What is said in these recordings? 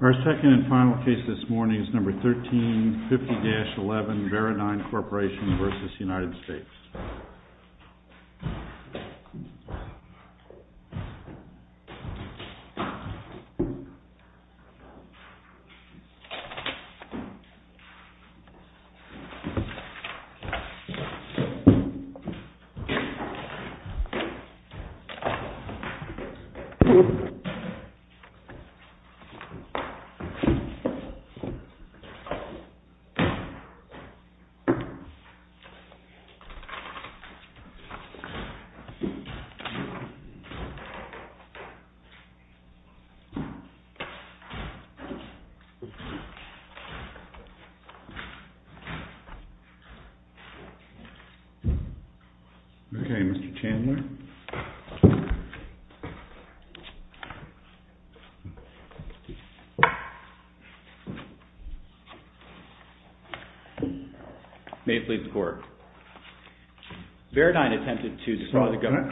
Our second and final case this morning is number 13-50-11 Veridyne Corporation v. United States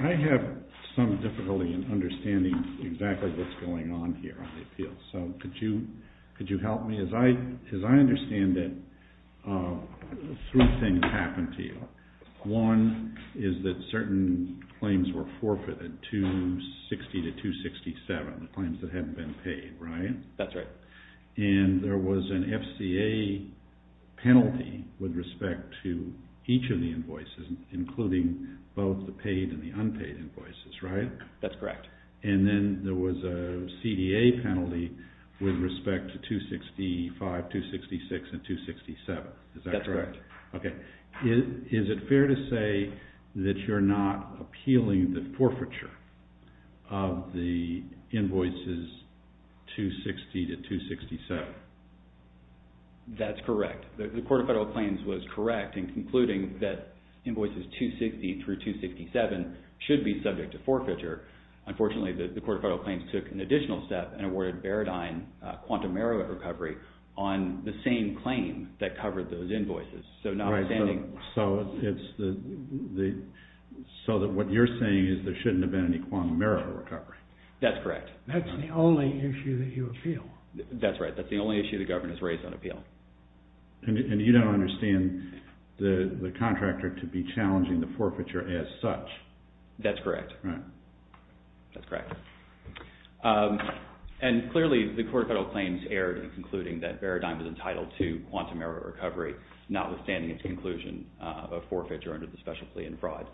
I have some difficulty in understanding exactly what's going on here. Could you help me? As I understand it, three things happened to you. One is that certain claims were forfeited 260-267, the claims that hadn't been paid, right? That's right. And there was an FCA penalty with respect to each of the invoices, including both the paid and the unpaid invoices, right? That's correct. With respect to 265, 266, and 267, is that correct? That's correct. Okay. Is it fair to say that you're not appealing the forfeiture of the invoices 260-267? That's correct. The Court of Federal Claims was correct in concluding that invoices 260-267 should be subject to forfeiture. Unfortunately, the Court of Federal Claims took an additional step and awarded Veridyne a quantum merit recovery on the same claim that covered those invoices. So what you're saying is there shouldn't have been any quantum merit recovery? That's correct. That's the only issue that you appeal? That's right. That's the only issue the government has raised on appeal. And you don't understand the contractor to be challenging the forfeiture as such? That's correct. That's correct. And clearly, the Court of Federal Claims erred in concluding that Veridyne was entitled to quantum merit recovery, notwithstanding its conclusion of forfeiture under the special plea and fraud.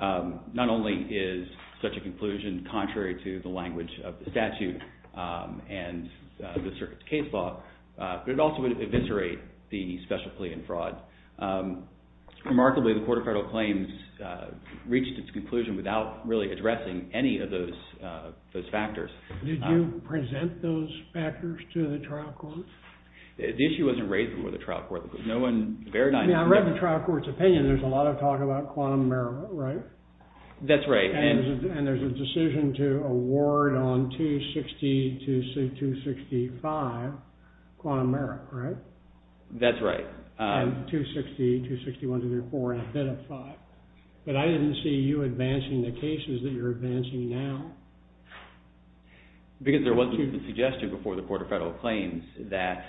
Not only is such a conclusion contrary to the language of the statute and the circuit case law, but it also would eviscerate the special plea and fraud. Remarkably, the Court of Federal Claims reached its conclusion without really addressing any of those factors. Did you present those factors to the trial court? The issue wasn't raised before the trial court. I mean, I read the trial court's opinion. There's a lot of talk about quantum merit, right? That's right. And there's a decision to award on 260-265 quantum merit, right? That's right. And 260-261-234 and a bit of five. But I didn't see you advancing the cases that you're advancing now. Because there wasn't a suggestion before the Court of Federal Claims that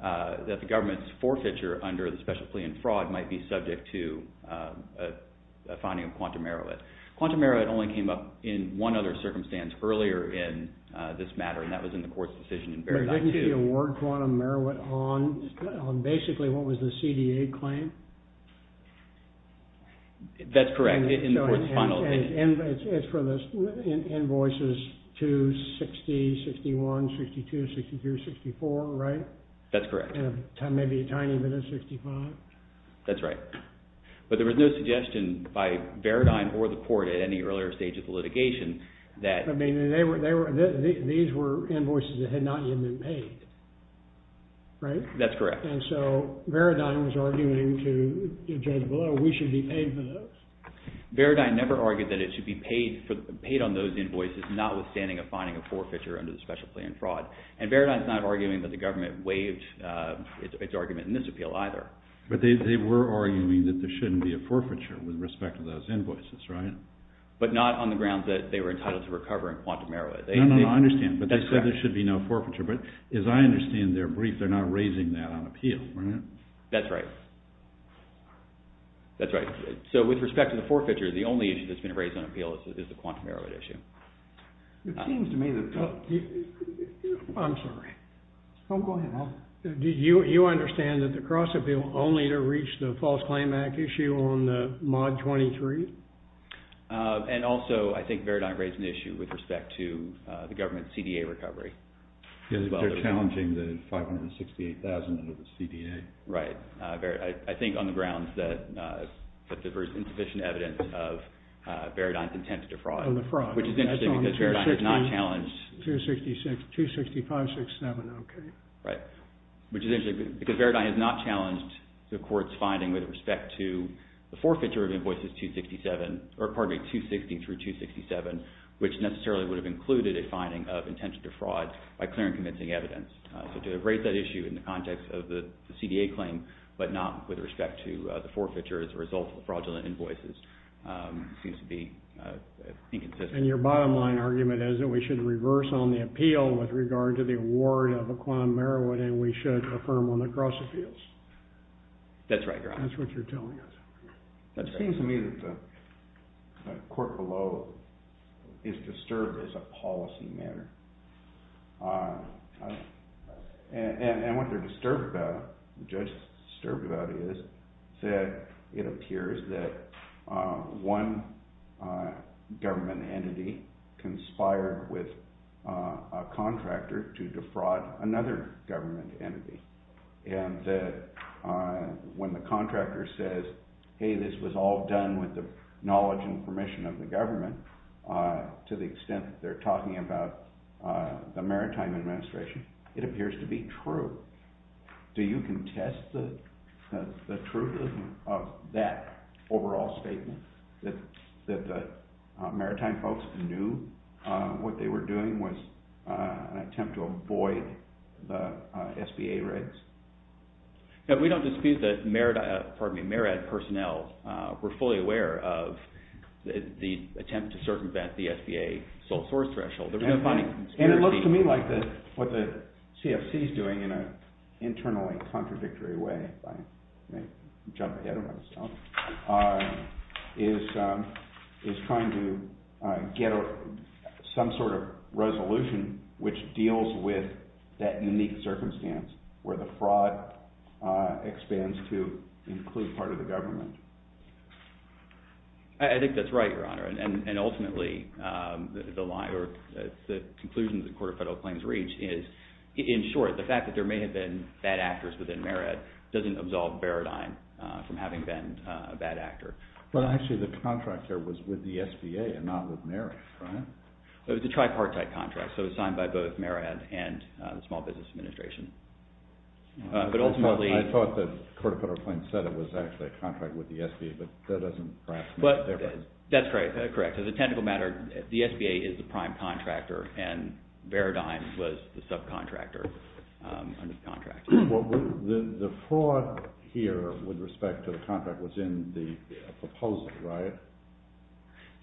the government's forfeiture under the special plea and fraud might be subject to a finding of quantum merit. Quantum merit only came up in one other circumstance earlier in this matter, and that was in the court's decision in Veridyne, too. Was the award quantum merit on basically what was the CDA claim? That's correct, in the court's final. And it's for the invoices 260-61-62-63-64, right? That's correct. And maybe a tiny bit of 65? That's right. But there was no suggestion by Veridyne or the court at any earlier stage of the litigation that… These were invoices that had not yet been paid, right? That's correct. And so Veridyne was arguing to the judge below, we should be paid for those. Veridyne never argued that it should be paid on those invoices, notwithstanding a finding of forfeiture under the special plea and fraud. And Veridyne's not arguing that the government waived its argument in this appeal either. But they were arguing that there shouldn't be a forfeiture with respect to those invoices, right? But not on the grounds that they were entitled to recover in quantum merit. No, no, I understand. But they said there should be no forfeiture. But as I understand their brief, they're not raising that on appeal, right? That's right. That's right. So with respect to the forfeiture, the only issue that's been raised on appeal is the quantum merit issue. It seems to me that… I'm sorry. Go ahead, Al. Do you understand that the cross appeal only to reach the false claim act issue on the mod 23? And also, I think Veridyne raised an issue with respect to the government's CDA recovery. They're challenging the $568,000 under the CDA. Right. I think on the grounds that there's insufficient evidence of Veridyne's intent to defraud. On the fraud. Which is interesting because Veridyne has not challenged… which is interesting because Veridyne has not challenged the court's finding with respect to the forfeiture of invoices 260 through 267, which necessarily would have included a finding of intent to defraud by clear and convincing evidence. So to rate that issue in the context of the CDA claim, but not with respect to the forfeiture as a result of fraudulent invoices seems to be inconsistent. And your bottom line argument is that we should reverse on the appeal with regard to the award of equine marijuana and we should affirm on the cross appeals. That's right, Your Honor. That's what you're telling us. It seems to me that the court below is disturbed as a policy matter. And what the judge is disturbed about is that it appears that one government entity conspired with a contractor to defraud another government entity. And that when the contractor says, hey, this was all done with the knowledge and permission of the government, to the extent that they're talking about the maritime administration, it appears to be true. Do you contest the truth of that overall statement that the maritime folks knew what they were doing was an attempt to avoid the SBA rigs? We don't dispute that MARAD personnel were fully aware of the attempt to circumvent the SBA sole source threshold. And it looks to me like what the CFC is doing in an internally contradictory way is trying to get some sort of resolution which deals with that unique circumstance where the fraud expands to include part of the government. I think that's right, Your Honor. And ultimately, the conclusion the Court of Federal Claims reached is, in short, the fact that there may have been bad actors within MARAD doesn't absolve Baradine from having been a bad actor. But actually the contractor was with the SBA and not with MARAD, right? It was a tripartite contract, so it was signed by both MARAD and the Small Business Administration. I thought that the Court of Federal Claims said it was actually a contract with the SBA, but that doesn't perhaps make a difference. That's correct. As a technical matter, the SBA is the prime contractor and Baradine was the subcontractor under the contract. The fraud here with respect to the contract was in the proposal, right?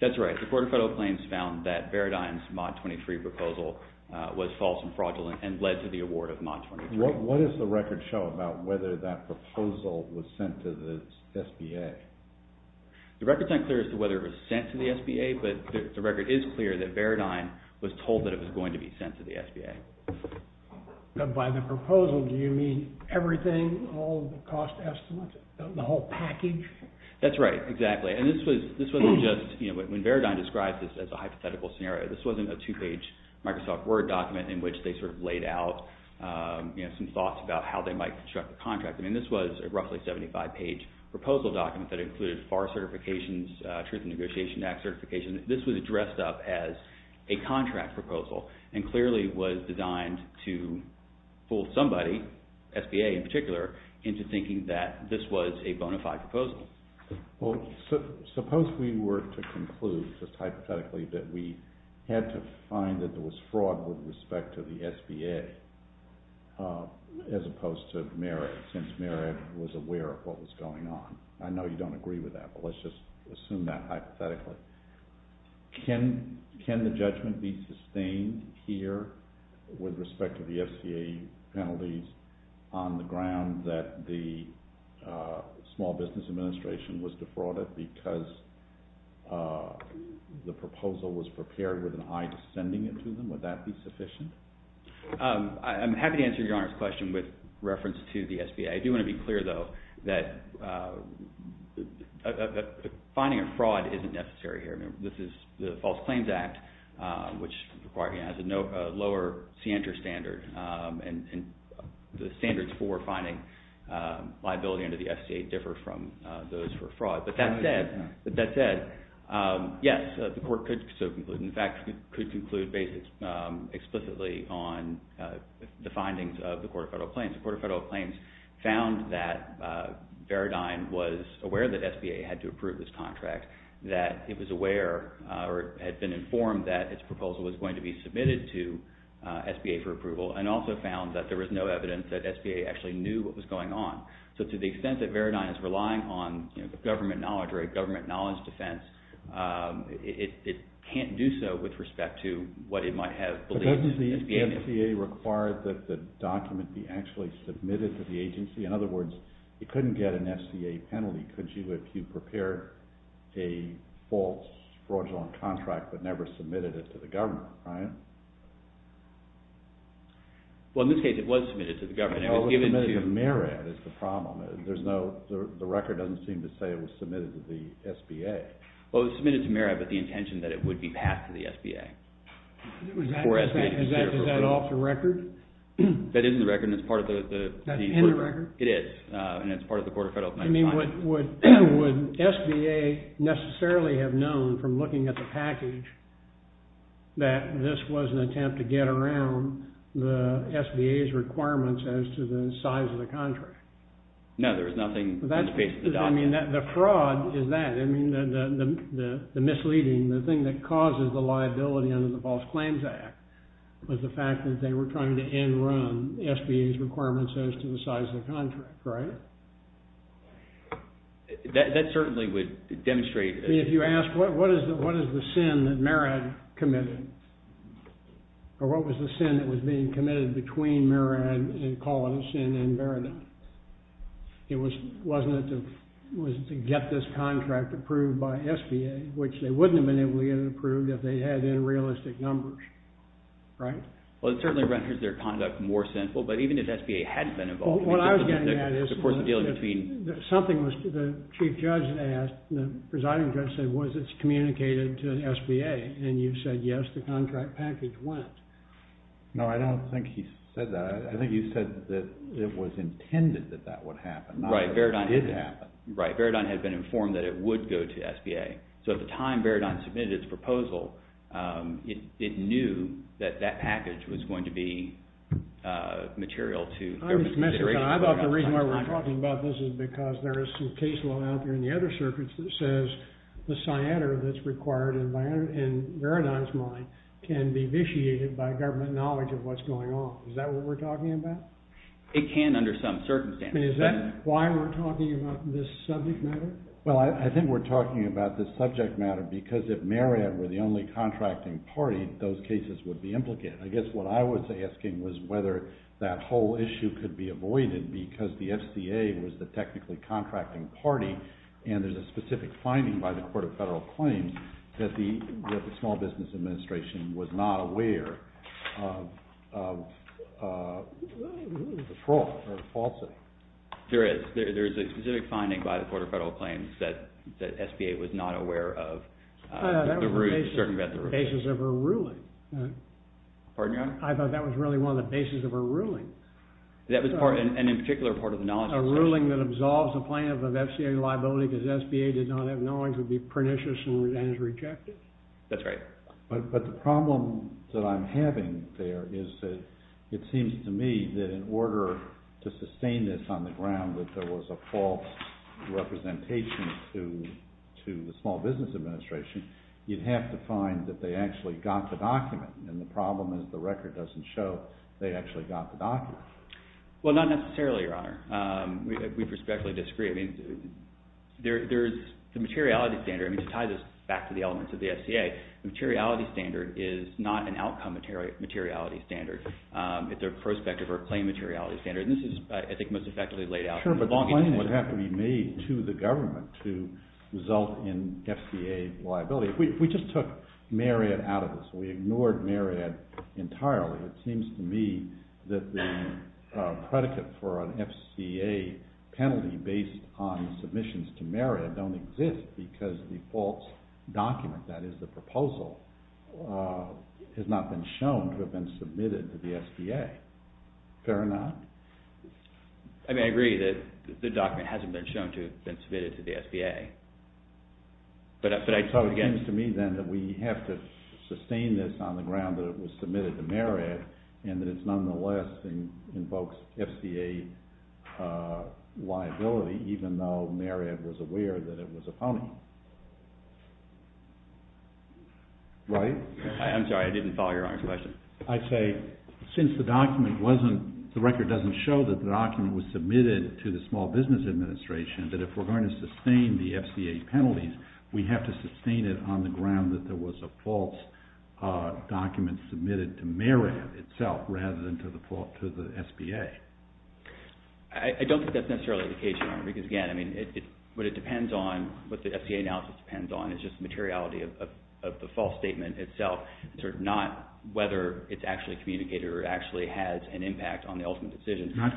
That's right. The Court of Federal Claims found that Baradine's Mod 23 proposal was false and fraudulent and led to the award of Mod 23. What does the record show about whether that proposal was sent to the SBA? The record's not clear as to whether it was sent to the SBA, but the record is clear that Baradine was told that it was going to be sent to the SBA. By the proposal, do you mean everything, all of the cost estimates, the whole package? That's right, exactly. When Baradine described this as a hypothetical scenario, this wasn't a two-page Microsoft Word document in which they laid out some thoughts about how they might construct the contract. This was a roughly 75-page proposal document that included FAR certifications, Truth in Negotiation Act certifications. This was addressed up as a contract proposal and clearly was designed to fool somebody, SBA in particular, into thinking that this was a bona fide proposal. Well, suppose we were to conclude, just hypothetically, that we had to find that there was fraud with respect to the SBA as opposed to Merritt, since Merritt was aware of what was going on. I know you don't agree with that, but let's just assume that hypothetically. Can the judgment be sustained here with respect to the SBA penalties on the ground that the Small Business Administration was defrauded because the proposal was prepared with an eye to sending it to them? Would that be sufficient? I'm happy to answer Your Honor's question with reference to the SBA. I do want to be clear, though, that finding a fraud isn't necessary here. This is the False Claims Act, which has a lower CANDOR standard, and the standards for finding liability under the SCA differ from those for fraud. But that said, yes, the Court could conclude, in fact, could conclude based explicitly on the findings of the Court of Federal Claims. The Court of Federal Claims found that Veridign was aware that SBA had to approve this contract, that it was aware or had been informed that its proposal was going to be submitted to SBA for approval, and also found that there was no evidence that SBA actually knew what was going on. So to the extent that Veridign is relying on government knowledge or a government knowledge defense, it can't do so with respect to what it might have believed that SBA knew. The SCA required that the document be actually submitted to the agency? In other words, it couldn't get an SCA penalty, could you, if you prepared a false fraudulent contract but never submitted it to the government, right? Well, in this case, it was submitted to the government. It was submitted to MERAD is the problem. The record doesn't seem to say it was submitted to the SBA. Well, it was submitted to MERAD with the intention that it would be passed to the SBA. Is that off the record? That isn't the record, and it's part of the... That's in the record? It is, and it's part of the Court of Federal Claims. I mean, would SBA necessarily have known from looking at the package that this was an attempt to get around the SBA's requirements as to the size of the contract? No, there was nothing in space of the document. Well, I mean, the fraud is that. I mean, the misleading, the thing that causes the liability under the False Claims Act was the fact that they were trying to end-run SBA's requirements as to the size of the contract, right? That certainly would demonstrate... I mean, if you ask, what is the sin that MERAD committed, or what was the sin that was being committed between MERAD and Colinas and MERAD? It wasn't to get this contract approved by SBA, which they wouldn't have been able to get it approved if they had in realistic numbers, right? Well, it certainly renders their conduct more sinful, but even if SBA hadn't been involved... What I was getting at is... Of course, the dealing between... Something was, the Chief Judge asked, the Presiding Judge said, was it communicated to SBA? And you said, yes, the contract package went. No, I don't think he said that. I think you said that it was intended that that would happen. It didn't happen. Right. Veridon had been informed that it would go to SBA. So at the time Veridon submitted its proposal, it knew that that package was going to be material to government consideration. I thought the reason why we're talking about this is because there is some case law out there in the other circuits that says the cyanide that's required in Veridon's mind can be vitiated by government knowledge of what's going on. Is that what we're talking about? It can under some circumstances. Is that why we're talking about this subject matter? Well, I think we're talking about this subject matter because if MERAD were the only contracting party, those cases would be implicated. I guess what I was asking was whether that whole issue could be avoided because the SBA was the technically contracting party, and there's a specific finding by the Court of Federal Claims that the Small Business Administration was not aware of the fraud or the falsity. There is. There is a specific finding by the Court of Federal Claims that SBA was not aware of the certain measure of fraud. Pardon your honor? I thought that was really one of the bases of a ruling. That was part, and in particular part of the knowledge. A ruling that absolves a plaintiff of FCA liability because SBA did not have knowledge would be pernicious and is rejected. That's right. But the problem that I'm having there is that it seems to me that in order to sustain this on the ground that there was a false representation to the Small Business Administration, you'd have to find that they actually got the document, and the problem is the record doesn't show they actually got the document. Well, not necessarily, your honor. We perspectively disagree. There's the materiality standard. To tie this back to the elements of the FCA, the materiality standard is not an outcome materiality standard. It's a prospective or claim materiality standard, and this is, I think, most effectively laid out. Sure, but the claim would have to be made to the government to result in FCA liability. We just took Marriott out of this. We ignored Marriott entirely. It seems to me that the predicate for an FCA penalty based on submissions to Marriott don't exist because the false document, that is, the proposal, has not been shown to have been submitted to the SBA. Fair or not? I mean, I agree that the document hasn't been shown to have been submitted to the SBA. It seems to me, then, that we have to sustain this on the ground that it was submitted to Marriott, and that it nonetheless invokes FCA liability, even though Marriott was aware that it was a pony. Right? I'm sorry, I didn't follow your honor's question. I'd say, since the document wasn't, the record doesn't show that the document was submitted to the Small Business Administration, that if we're going to sustain the FCA penalties, we have to sustain it on the ground that there was a false document submitted to Marriott itself, rather than to the SBA. I don't think that's necessarily the case, your honor. Because, again, what it depends on, what the FCA analysis depends on, is just the materiality of the false statement itself. Not whether it's actually communicated or actually has an impact on the ultimate decision. It has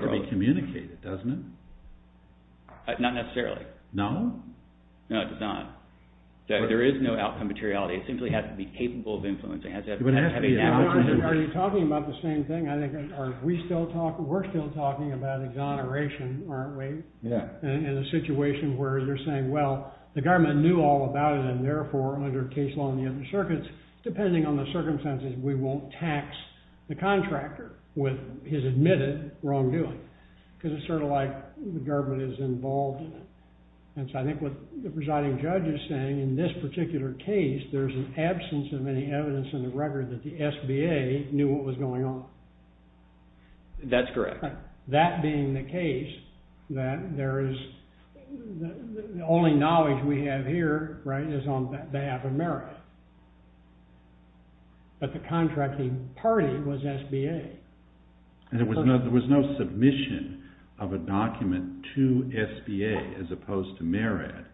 to be communicated, doesn't it? Not necessarily. No? No, it does not. There is no outcome materiality. It simply has to be capable of influencing. Are you talking about the same thing? We're still talking about exoneration, aren't we? Yeah. In a situation where you're saying, well, the government knew all about it, and therefore, under case law in the open circuits, depending on the circumstances, we won't tax the contractor with his admitted wrongdoing. Because it's sort of like the government is involved in it. And so I think what the presiding judge is saying, in this particular case, there's an absence of any evidence in the record that the SBA knew what was going on. That's correct. That being the case, that there is, the only knowledge we have here, right, is on behalf of Marriott. But the contracting party was SBA. There was no submission of a document to SBA, as opposed to Marriott,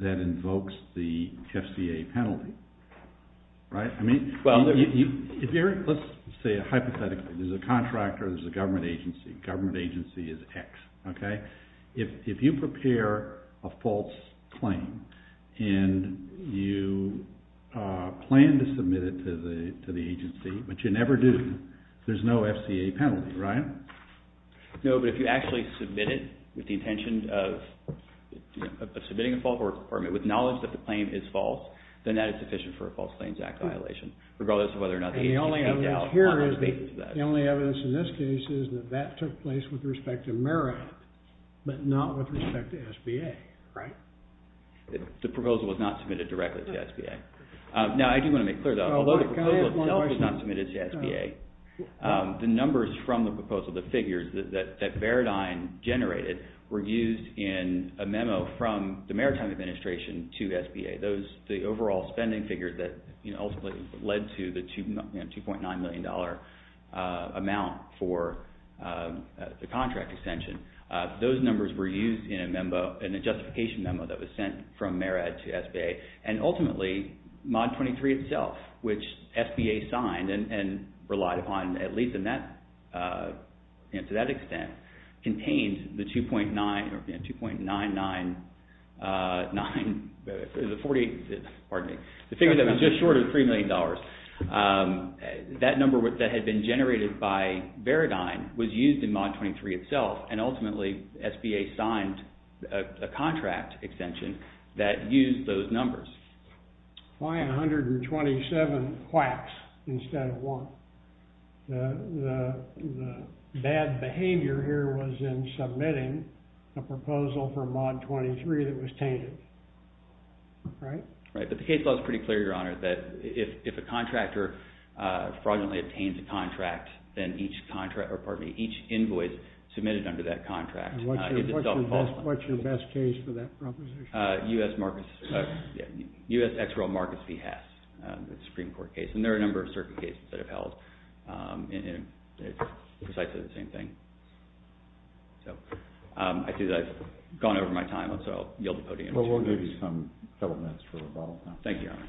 that invokes the FCA penalty. Right? I mean, let's say hypothetically, there's a contractor, there's a government agency. Government agency is X. Okay? If you prepare a false claim, and you plan to submit it to the agency, but you never do, there's no FCA penalty, right? No, but if you actually submit it with the intention of submitting a false report, with knowledge that the claim is false, then that is sufficient for a False Claims Act violation. Regardless of whether or not the SBA dealt with that. The only evidence in this case is that that took place with respect to Marriott, but not with respect to SBA. Right? The proposal was not submitted directly to SBA. Now, I do want to make clear, though, although the proposal itself was not submitted to SBA, the numbers from the proposal, the figures that Veridine generated, were used in a memo from the Maritime Administration to SBA. Those, the overall spending figures that ultimately led to the $2.9 million amount for the contract extension, those numbers were used in a justification memo that was sent from Marriott to SBA. The figure that was just short of $3 million, that number that had been generated by Veridine was used in Mod 23 itself, and ultimately SBA signed a contract extension that used those numbers. Why 127 quacks instead of one? The bad behavior here was in submitting a proposal for Mod 23 that was tainted. Right? Right. But the case law is pretty clear, Your Honor, that if a contractor fraudulently obtains a contract, then each invoice submitted under that contract is itself false. What's your best case for that proposition? U.S. Ex-Royal Marcus V. Hess, the Supreme Court case. And there are a number of certain cases that have held precisely the same thing. So, I see that I've gone over my time, so I'll yield the podium. Well, we'll give you a couple minutes for rebuttal. Thank you, Your Honor.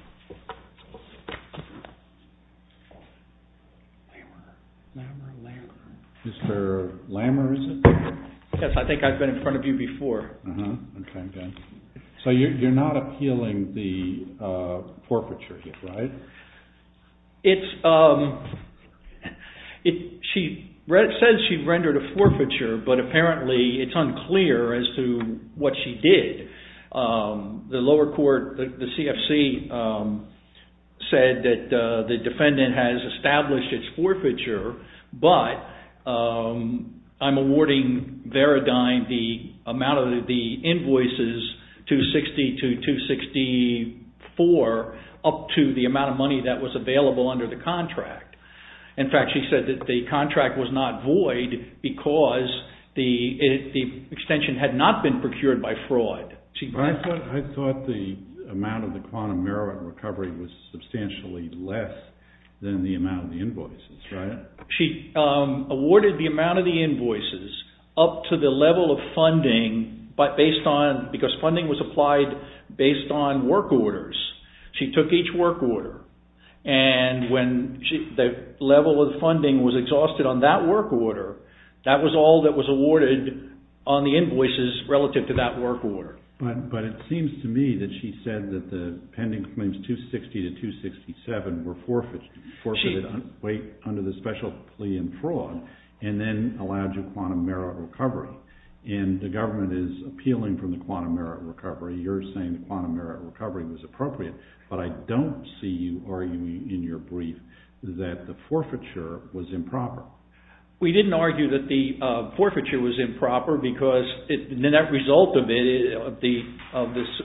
Mr. Lammer, is it? Yes, I think I've been in front of you before. Uh-huh. So, you're not appealing the forfeiture here, right? It's, um, she says she rendered a forfeiture, but apparently it's unclear as to what she did. The lower court, the CFC, said that the defendant has established its forfeiture, but I'm awarding Veradyne the amount of the invoices, 260 to 264, up to the amount of money that was available under the contract. In fact, she said that the contract was not void because the extension had not been procured by fraud. I thought the amount of the quantum merit recovery was substantially less than the amount of the invoices, right? She awarded the amount of the invoices up to the level of funding, but based on, because funding was applied based on work orders. She took each work order, and when the level of funding was exhausted on that work order, that was all that was awarded on the invoices relative to that work order. But it seems to me that she said that the pending claims, 260 to 267, were forfeited under the special plea and fraud, and then allowed you quantum merit recovery. And the government is appealing from the quantum merit recovery. You're saying the quantum merit recovery was appropriate, but I don't see you arguing in your brief that the forfeiture was improper. We didn't argue that the forfeiture was improper because the net result of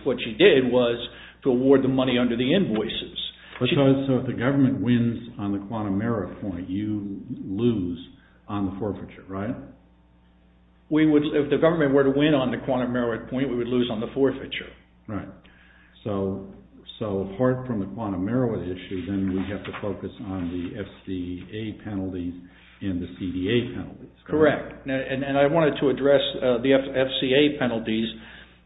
what she did was to award the money under the invoices. So if the government wins on the quantum merit point, you lose on the forfeiture, right? If the government were to win on the quantum merit point, we would lose on the forfeiture. Right. So apart from the quantum merit issue, then we have to focus on the FCA penalties and the CDA penalties. Correct. And I wanted to address the FCA penalties.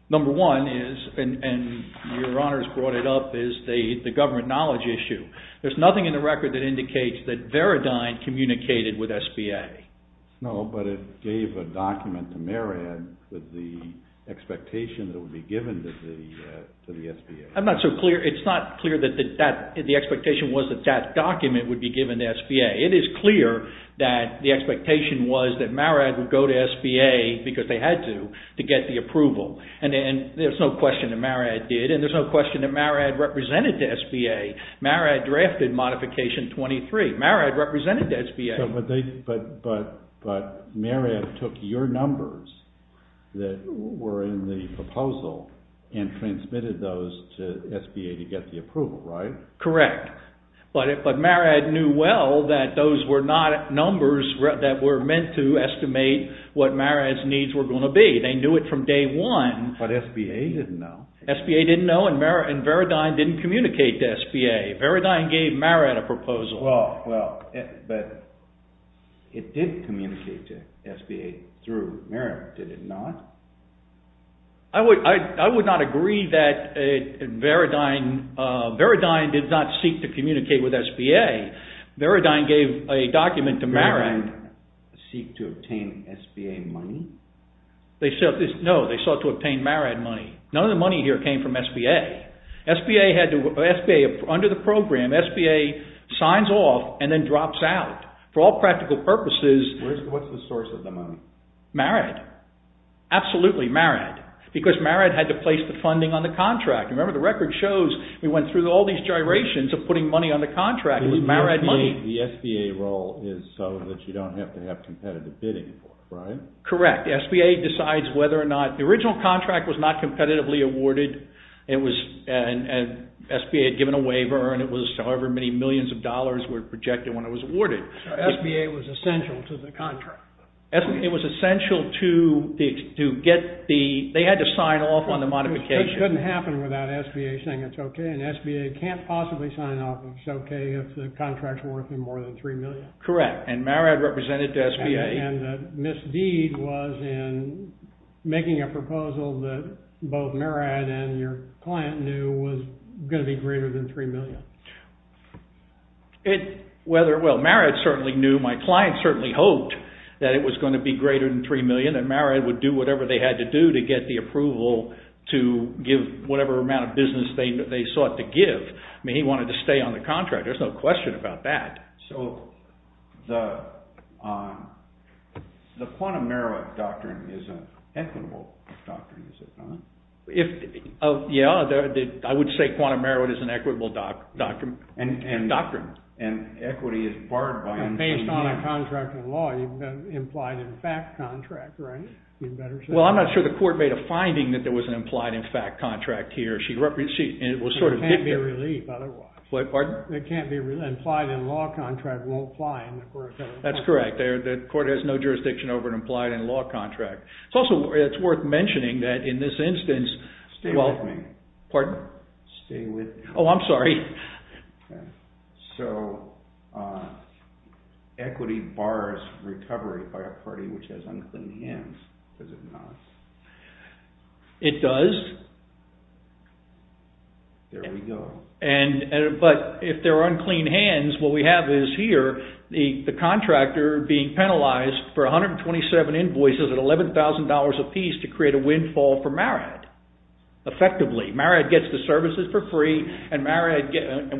Number one is, and your honors brought it up, is the government knowledge issue. There's nothing in the record that indicates that Veridyn communicated with SBA. No, but it gave a document to Marad with the expectation that it would be given to the SBA. I'm not so clear. It's not clear that the expectation was that that document would be given to SBA. It is clear that the expectation was that Marad would go to SBA, because they had to, to get the approval. And there's no question that Marad did, and there's no question that Marad represented the SBA. Marad drafted Modification 23. Marad represented the SBA. But Marad took your numbers that were in the proposal and transmitted those to SBA to get the approval, right? Correct. But Marad knew well that those were not numbers that were meant to estimate what Marad's needs were going to be. They knew it from day one. But SBA didn't know. SBA didn't know, and Veridyn didn't communicate to SBA. Veridyn gave Marad a proposal. Well, but it didn't communicate to SBA through Marad, did it not? I would not agree that Veridyn, Veridyn did not seek to communicate with SBA. Veridyn gave a document to Marad. Veridyn seeked to obtain SBA money? No, they sought to obtain Marad money. None of the money here came from SBA. SBA, under the program, SBA signs off and then drops out. For all practical purposes... What's the source of the money? Marad. Absolutely, Marad. Because Marad had to place the funding on the contract. Remember, the record shows we went through all these gyrations of putting money on the contract with Marad money. The SBA role is so that you don't have to have competitive bidding, right? Correct. SBA decides whether or not... The original contract was not competitively awarded. SBA had given a waiver and it was however many millions of dollars were projected when it was awarded. SBA was essential to the contract. It was essential to get the... They had to sign off on the modification. It couldn't happen without SBA saying it's okay. And SBA can't possibly sign off if it's okay if the contract's worth more than $3 million. Correct. And Marad represented SBA. And the misdeed was in making a proposal that both Marad and your client knew was going to be greater than $3 million. Well, Marad certainly knew. My client certainly hoped that it was going to be greater than $3 million. And Marad would do whatever they had to do to get the approval to give whatever amount of business they sought to give. I mean, he wanted to stay on the contract. There's no question about that. So the quantum merit doctrine is an equitable doctrine, is it not? Yeah, I would say quantum merit is an equitable doctrine. And equity is barred by... Based on a contract in law, you've implied in fact contract, right? Well, I'm not sure the court made a finding that there was an implied in fact contract here. It can't be relieved otherwise. Pardon? The court that can't be implied in law contract won't apply in the court of federal counsel. That's correct. The court has no jurisdiction over an implied in law contract. It's also worth mentioning that in this instance... Stay with me. Pardon? Stay with me. Oh, I'm sorry. Okay. So equity bars recovery by a party which has unclean hands, does it not? It does. There we go. But if there are unclean hands, what we have is here the contractor being penalized for 127 invoices at $11,000 apiece to create a windfall for Marriott, effectively. Marriott gets the services for free and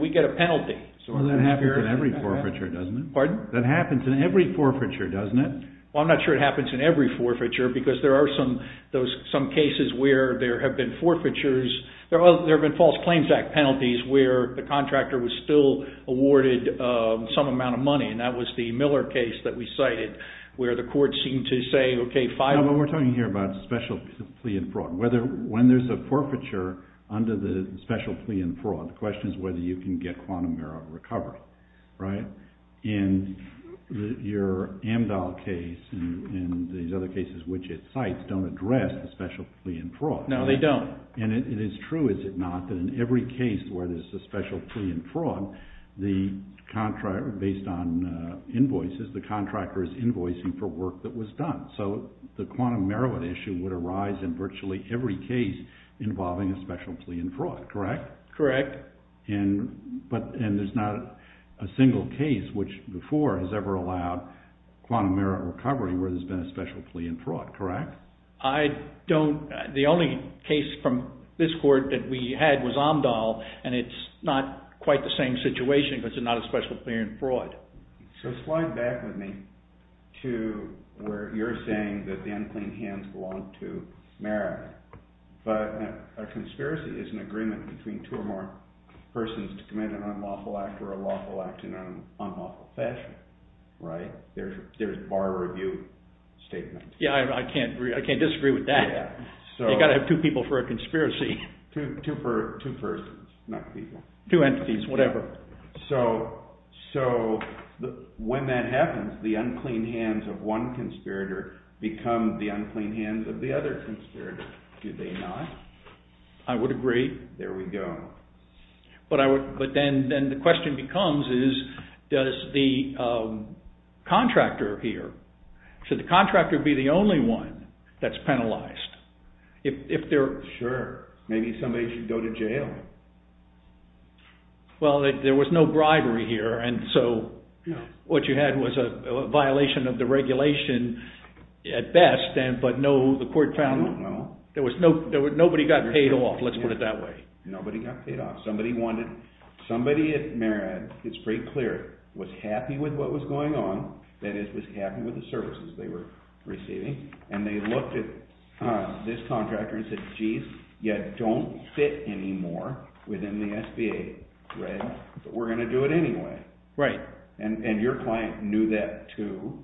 we get a penalty. That happens in every forfeiture, doesn't it? Pardon? That happens in every forfeiture, doesn't it? Well, I'm not sure it happens in every forfeiture because there are some cases where there have been forfeitures. There have been false claims act penalties where the contractor was still awarded some amount of money and that was the Miller case that we cited where the court seemed to say, okay, five... No, but we're talking here about special plea and fraud. When there's a forfeiture under the special plea and fraud, the question is whether you can get Quantum Marriott recovered, right? In your Amdahl case and these other cases which it cites don't address the special plea and fraud. No, they don't. And it is true, is it not, that in every case where there's a special plea and fraud, based on invoices, the contractor is invoicing for work that was done. So the Quantum Marriott issue would arise in virtually every case involving a special plea and fraud, correct? Correct. And there's not a single case which before has ever allowed Quantum Marriott recovery where there's been a special plea and fraud, correct? The only case from this court that we had was Amdahl and it's not quite the same situation because it's not a special plea and fraud. So slide back with me to where you're saying that the unclean hands belong to Marriott, but a conspiracy is an agreement between two or more persons to commit an unlawful act or a lawful act in an unlawful fashion, right? There's a bar review statement. Yeah, I can't disagree with that. You've got to have two people for a conspiracy. Two persons, not people. Two entities, whatever. So when that happens, the unclean hands of one conspirator become the unclean hands of the other conspirator, do they not? I would agree. There we go. But then the question becomes is does the contractor here, should the contractor be the only one that's penalized? Sure, maybe somebody should go to jail. Well, there was no bribery here and so what you had was a violation of the regulation at best, but the court found nobody got paid off, let's put it that way. Nobody got paid off. Somebody at Marriott, it's pretty clear, was happy with what was going on, that is was happy with the services they were receiving, and they looked at this contractor and said, geez, you don't fit anymore within the SBA, but we're going to do it anyway. Right. And your client knew that too.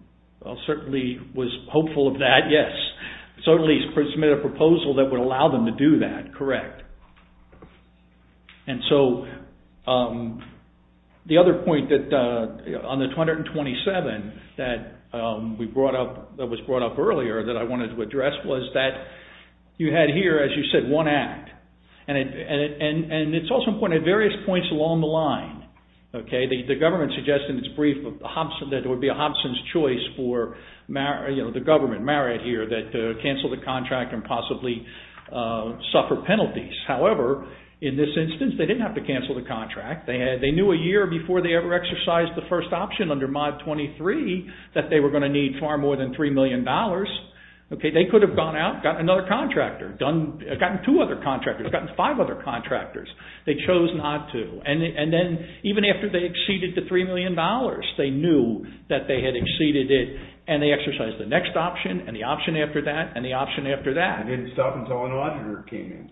Well, certainly was hopeful of that, yes. Certainly submitted a proposal that would allow them to do that, correct. And so the other point on the 227 that was brought up earlier that I wanted to address was that you had here, as you said, one act. And it's also important at various points along the line. The government suggested in its brief that it would be a Hobson's choice for the government, Marriott here, that cancel the contract and possibly suffer penalties. However, in this instance, they didn't have to cancel the contract. They knew a year before they ever exercised the first option under Mod 23 that they were going to need far more than $3 million. They could have gone out and gotten another contractor, gotten two other contractors, gotten five other contractors. They chose not to. And then even after they exceeded the $3 million, they knew that they had exceeded it and they exercised the next option and the option after that and the option after that. They didn't stop until an auditor came in.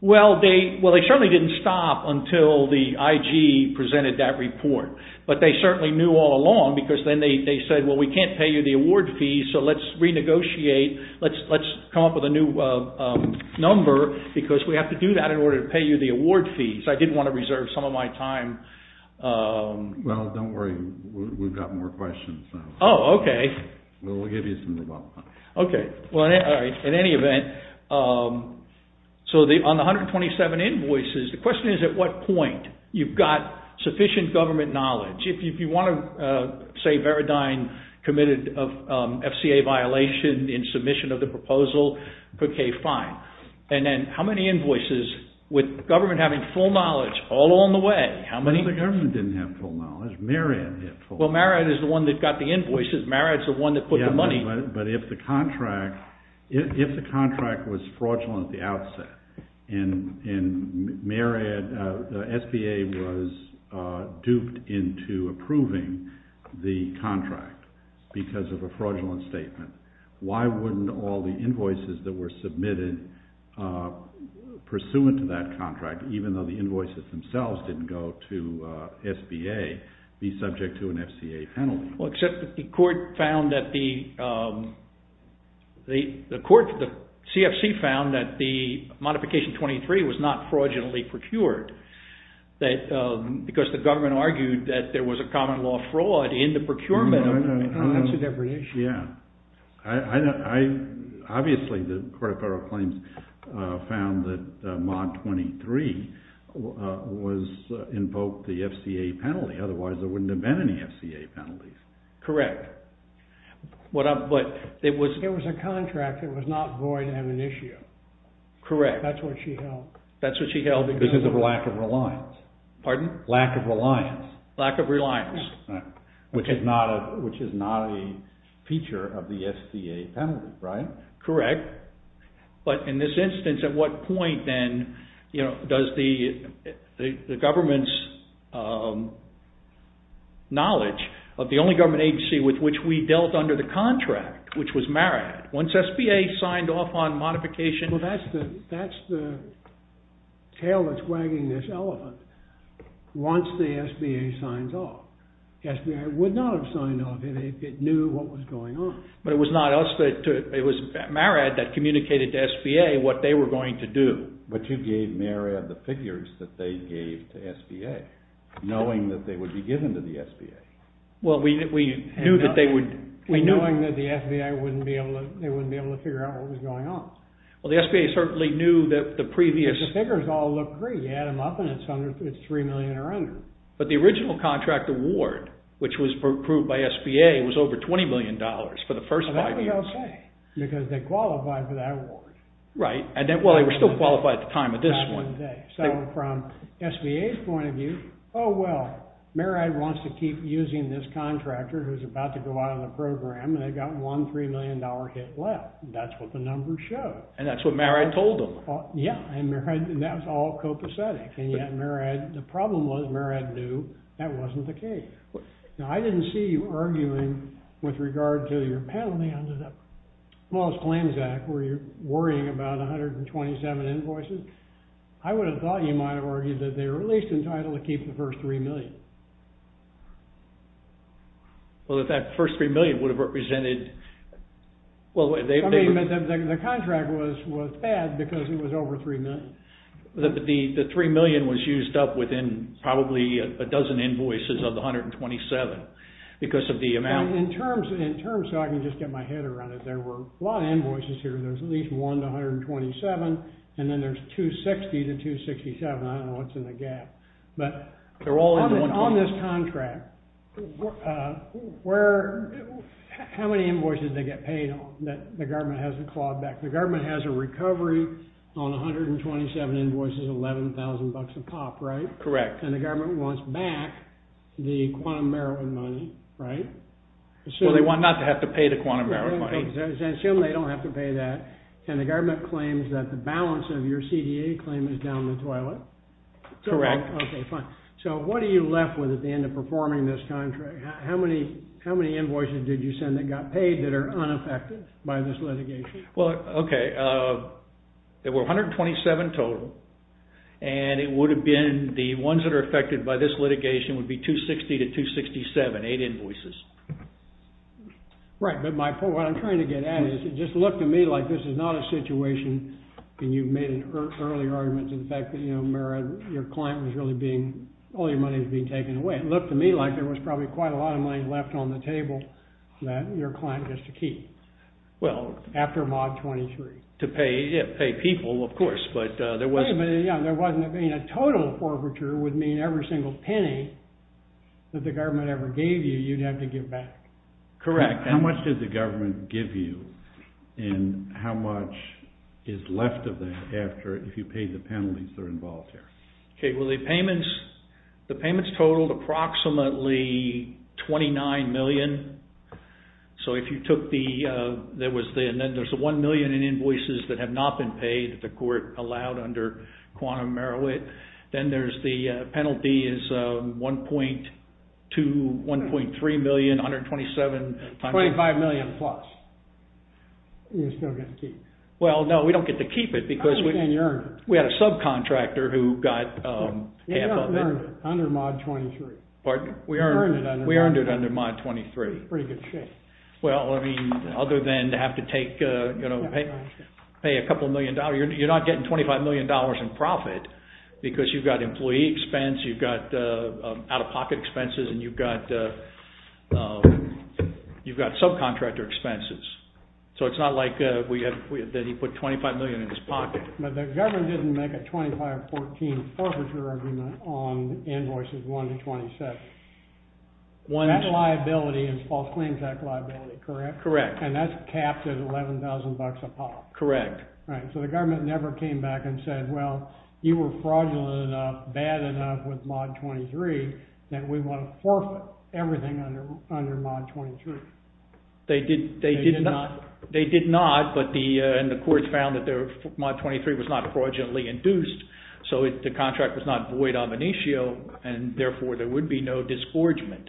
Well, they certainly didn't stop until the IG presented that report. But they certainly knew all along because then they said, well, we can't pay you the award fees, so let's renegotiate. Let's come up with a new number because we have to do that in order to pay you the award fees. I did want to reserve some of my time. Well, don't worry. We've got more questions. Oh, okay. We'll give you some more time. Okay. Well, in any event, so on the 127 invoices, the question is at what point you've got sufficient government knowledge. If you want to say Veridine committed an FCA violation in submission of the proposal, okay, fine. And then how many invoices with government having full knowledge all along the way? Well, the government didn't have full knowledge. Marriott had full knowledge. Well, Marriott is the one that got the invoices. Marriott's the one that put the money. Yeah, but if the contract was fraudulent at the outset and SBA was duped into approving the contract because of a fraudulent statement, why wouldn't all the invoices that were submitted pursuant to that contract, even though the invoices themselves didn't go to SBA, be subject to an FCA penalty? Well, except that the CFC found that the modification 23 was not fraudulently procured because the government argued that there was a common law fraud in the procurement. That's a different issue. Yeah. Obviously, the Court of Federal Claims found that mod 23 invoked the FCA penalty. Otherwise, there wouldn't have been any FCA penalties. Correct. There was a contract that was not void of amnesia. Correct. That's what she held. That's what she held. Because of lack of reliance. Pardon? Lack of reliance. Lack of reliance. Which is not a feature of the SBA penalty, right? Correct. But in this instance, at what point then does the government's knowledge of the only government agency with which we dealt under the contract, which was Marriott, once SBA signed off on modification... Well, that's the tail that's wagging this elephant. Once the SBA signs off, SBA would not have signed off if it knew what was going on. But it was not us. It was Marriott that communicated to SBA what they were going to do. But you gave Marriott the figures that they gave to SBA, knowing that they would be given to the SBA. Well, we knew that they would... Knowing that the SBA wouldn't be able to figure out what was going on. Well, the SBA certainly knew that the previous... Because the figures all look great. You add them up, and it's $3 million or under. But the original contract award, which was approved by SBA, was over $20 million for the first five years. Well, that we don't say, because they qualified for that award. Right. Well, they were still qualified at the time of this one. So from SBA's point of view, oh, well, Marriott wants to keep using this contractor who's about to go out on the program, and they've got one $3 million hit left. That's what the numbers show. And that's what Marriott told them. Yeah. And that was all copacetic. And yet Marriott... The problem was Marriott knew that wasn't the case. Now, I didn't see you arguing with regard to your penalty under the smallest claims act, where you're worrying about 127 invoices. I would have thought you might have argued that they were at least entitled to keep the first $3 million. Well, if that first $3 million would have represented... Well, they... I mean, the contract was bad because it was over $3 million. The $3 million was used up within probably a dozen invoices of the 127 because of the amount... In terms... So I can just get my head around it. There were a lot of invoices here. There's at least one to 127, and then there's 260 to 267. I don't know what's in the gap. But on this contract, how many invoices did they get paid on that the government hasn't clawed back? The government has a recovery on 127 invoices, $11,000 a pop, right? Correct. And the government wants back the Quantum Marriott money, right? Well, they want not to have to pay the Quantum Marriott money. Let's assume they don't have to pay that, and the government claims that the balance of your CDA claim is down the toilet. Correct. Okay, fine. So what are you left with at the end of performing this contract? How many invoices did you send that got paid that are unaffected by this litigation? Well, okay. There were 127 total, and it would have been... The ones that are affected by this litigation would be 260 to 267, eight invoices. Right, but what I'm trying to get at is just look to me like this is not a situation... I mean, you've made an early argument to the fact that, you know, Marriott, your client was really being... all your money was being taken away. It looked to me like there was probably quite a lot of money left on the table that your client gets to keep. Well... After Mod 23. To pay people, of course, but there wasn't... But, yeah, there wasn't... I mean, a total forfeiture would mean every single penny that the government ever gave you, you'd have to give back. Correct. How much did the government give you, and how much is left of that if you pay the penalties that are involved here? Okay, well, the payments totaled approximately $29 million. So if you took the... And then there's the $1 million in invoices that have not been paid that the court allowed under Quantum Marriott. Then there's the penalty is $1.2, $1.3 million, $127... $25 million plus. You still get to keep it. Well, no, we don't get to keep it because... How much can you earn? We had a subcontractor who got half of it. You earned it under Mod 23. Pardon? You earned it under Mod 23. We earned it under Mod 23. Pretty good shape. Well, I mean, other than to have to take, you know, pay a couple million dollars. You're not getting $25 million in profit because you've got employee expense, you've got out-of-pocket expenses, and you've got subcontractor expenses. So it's not like that he put $25 million in his pocket. But the government didn't make a 2514 forfeiture argument on invoices 1 to 27. That liability is False Claims Act liability, correct? Correct. And that's capped at $11,000 a pop. Correct. Right. So the government never came back and said, well, you were fraudulent enough, bad enough with Mod 23, that we want to forfeit everything under Mod 23. They did not, but the courts found that Mod 23 was not fraudulently induced. So the contract was not void omniscio, and therefore there would be no disgorgement.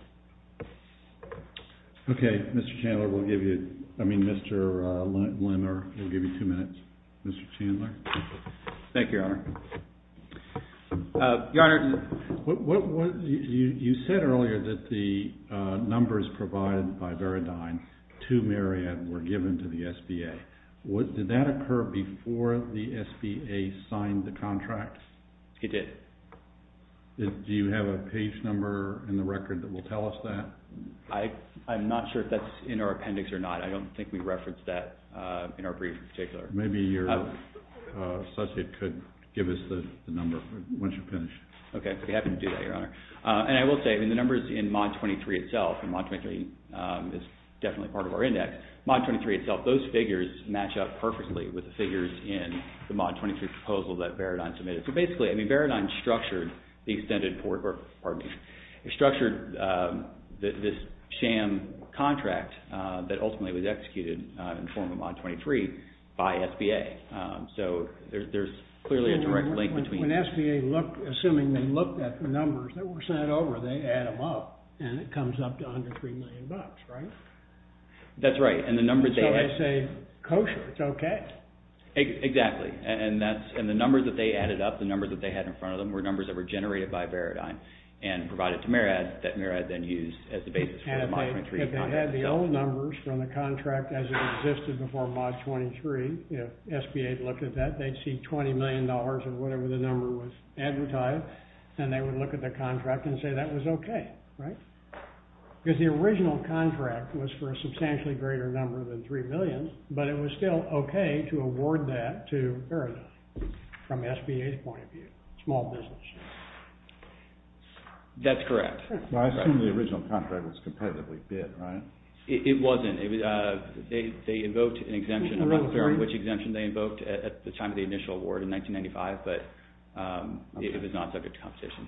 Okay. Mr. Chandler, we'll give you, I mean, Mr. Lenner, we'll give you two minutes. Mr. Chandler. Thank you, Your Honor. Your Honor, you said earlier that the numbers provided by Veridine to Marriott were given to the SBA. Did that occur before the SBA signed the contract? It did. Do you have a page number in the record that will tell us that? I'm not sure if that's in our appendix or not. I don't think we referenced that in our brief in particular. Maybe your subject could give us the number once you're finished. Okay. We happen to do that, Your Honor. And I will say, I mean, the numbers in Mod 23 itself, and Mod 23 is definitely part of our index, Mod 23 itself, those figures match up perfectly with the figures in the Mod 23 proposal that Veridine submitted. So basically, I mean, Veridine structured the extended port, or, pardon me, structured this sham contract that ultimately was executed in the form of Mod 23 by SBA. So there's clearly a direct link between. When SBA looked, assuming they looked at the numbers that were sent over, they add them up, and it comes up to $103 million, right? That's right. And the numbers they. So they say, kosher, it's okay. Exactly. And the numbers that they added up, the numbers that they had in front of them, were numbers that were generated by Veridine and provided to MERAD that MERAD then used as the basis for the Mod 23 contract. And if they had the old numbers from the contract as it existed before Mod 23, if SBA looked at that, they'd see $20 million or whatever the number was advertised, and they would look at the contract and say that was okay, right? Because the original contract was for a substantially greater number than $3 million, but it was still okay to award that to Veridine from SBA's point of view, small business. That's correct. I assume the original contract was competitively bid, right? It wasn't. They invoked an exemption. I'm not sure which exemption they invoked at the time of the initial award in 1995, but it was not subject to competition.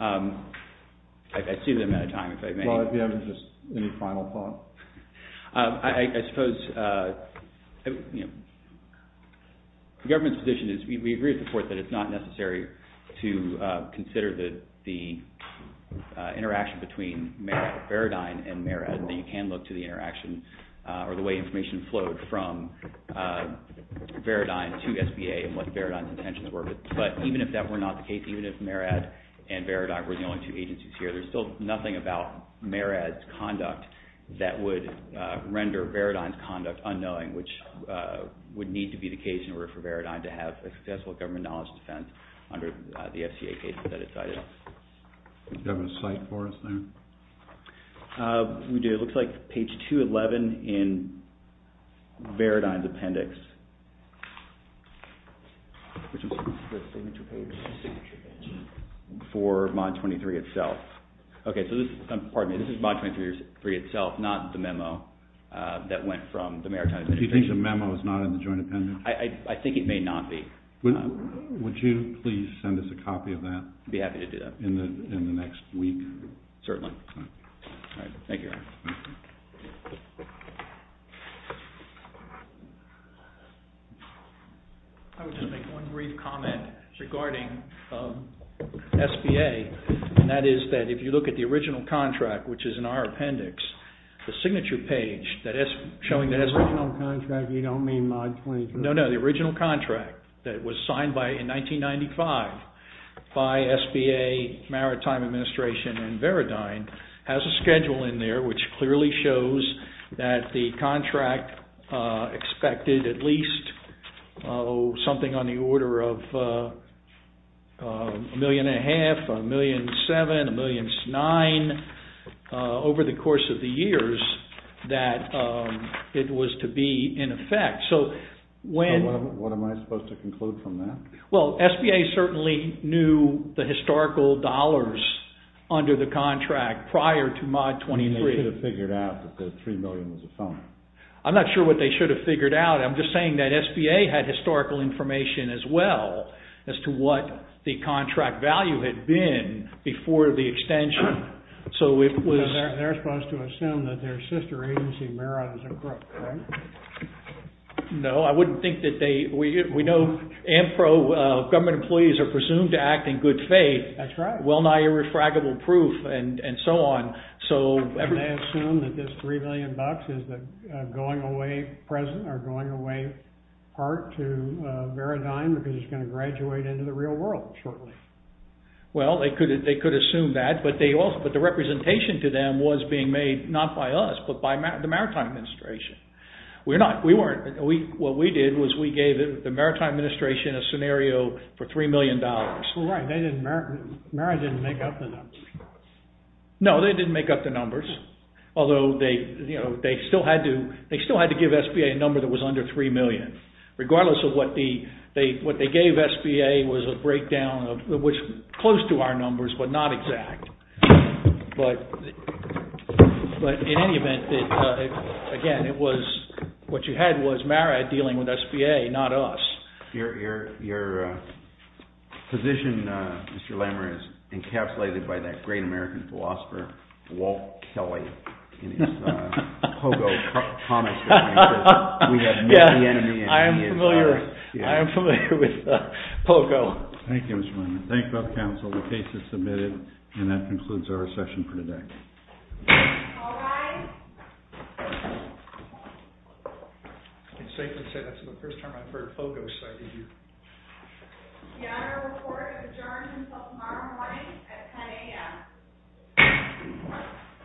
I assume that amount of time, if I may. Well, if you have just any final thoughts. I suppose the government's position is we agree with the court that it's not necessary to consider the interaction between Veridine and MERAD, that you can look to the interaction or the way information flowed from Veridine to SBA and what Veridine's intentions were. But even if that were not the case, even if MERAD and Veridine were the only two agencies here, there's still nothing about MERAD's conduct that would render Veridine's conduct unknowing, which would need to be the case in order for Veridine to have a successful government knowledge defense under the FCA cases that it cited. Do you have a site for us there? We do. It looks like page 211 in Veridine's appendix, which is the signature page for MoD 23 itself. Okay, so this is MoD 23 itself, not the memo that went from the MERAD. Do you think the memo is not in the joint appendix? I think it may not be. Would you please send us a copy of that? I'd be happy to do that. In the next week? Certainly. Thank you. I would just make one brief comment regarding SBA, and that is that if you look at the original contract, which is in our appendix, the signature page that is showing... The original contract, you don't mean MoD 23? ...has a schedule in there which clearly shows that the contract expected at least something on the order of a million and a half, a million and seven, a million and nine, over the course of the years, that it was to be in effect. What am I supposed to conclude from that? Well, SBA certainly knew the historical dollars under the contract prior to MoD 23. They should have figured out that the three million was a sum. I'm not sure what they should have figured out. I'm just saying that SBA had historical information as well as to what the contract value had been before the extension. They're supposed to assume that their sister agency, MERAD, is incorrect, right? No, I wouldn't think that they... We know AMPRO government employees are presumed to act in good faith. That's right. Well-nigh irrefragable proof and so on. They assume that this three million bucks is going away present or going away part to VERADYME because it's going to graduate into the real world shortly. Well, they could assume that, but the representation to them was being made not by us, but by the Maritime Administration. What we did was we gave the Maritime Administration a scenario for three million dollars. Right, MERAD didn't make up the numbers. No, they didn't make up the numbers. Although they still had to give SBA a number that was under three million. Regardless of what they gave SBA was a breakdown close to our numbers, but not exact. But in any event, again, what you had was MERAD dealing with SBA, not us. Your position, Mr. Lamer, is encapsulated by that great American philosopher, Walt Kelly, in his Pogo comics. We have many enemies. I am familiar with Pogo. Thank you, Mr. Lamer. Thank you, both counsel. The case is submitted and that concludes our session for today. All rise. It's safe to say that's the first time I've heard Pogo cited here. The Honorable Court adjourns until tomorrow morning at 10 a.m.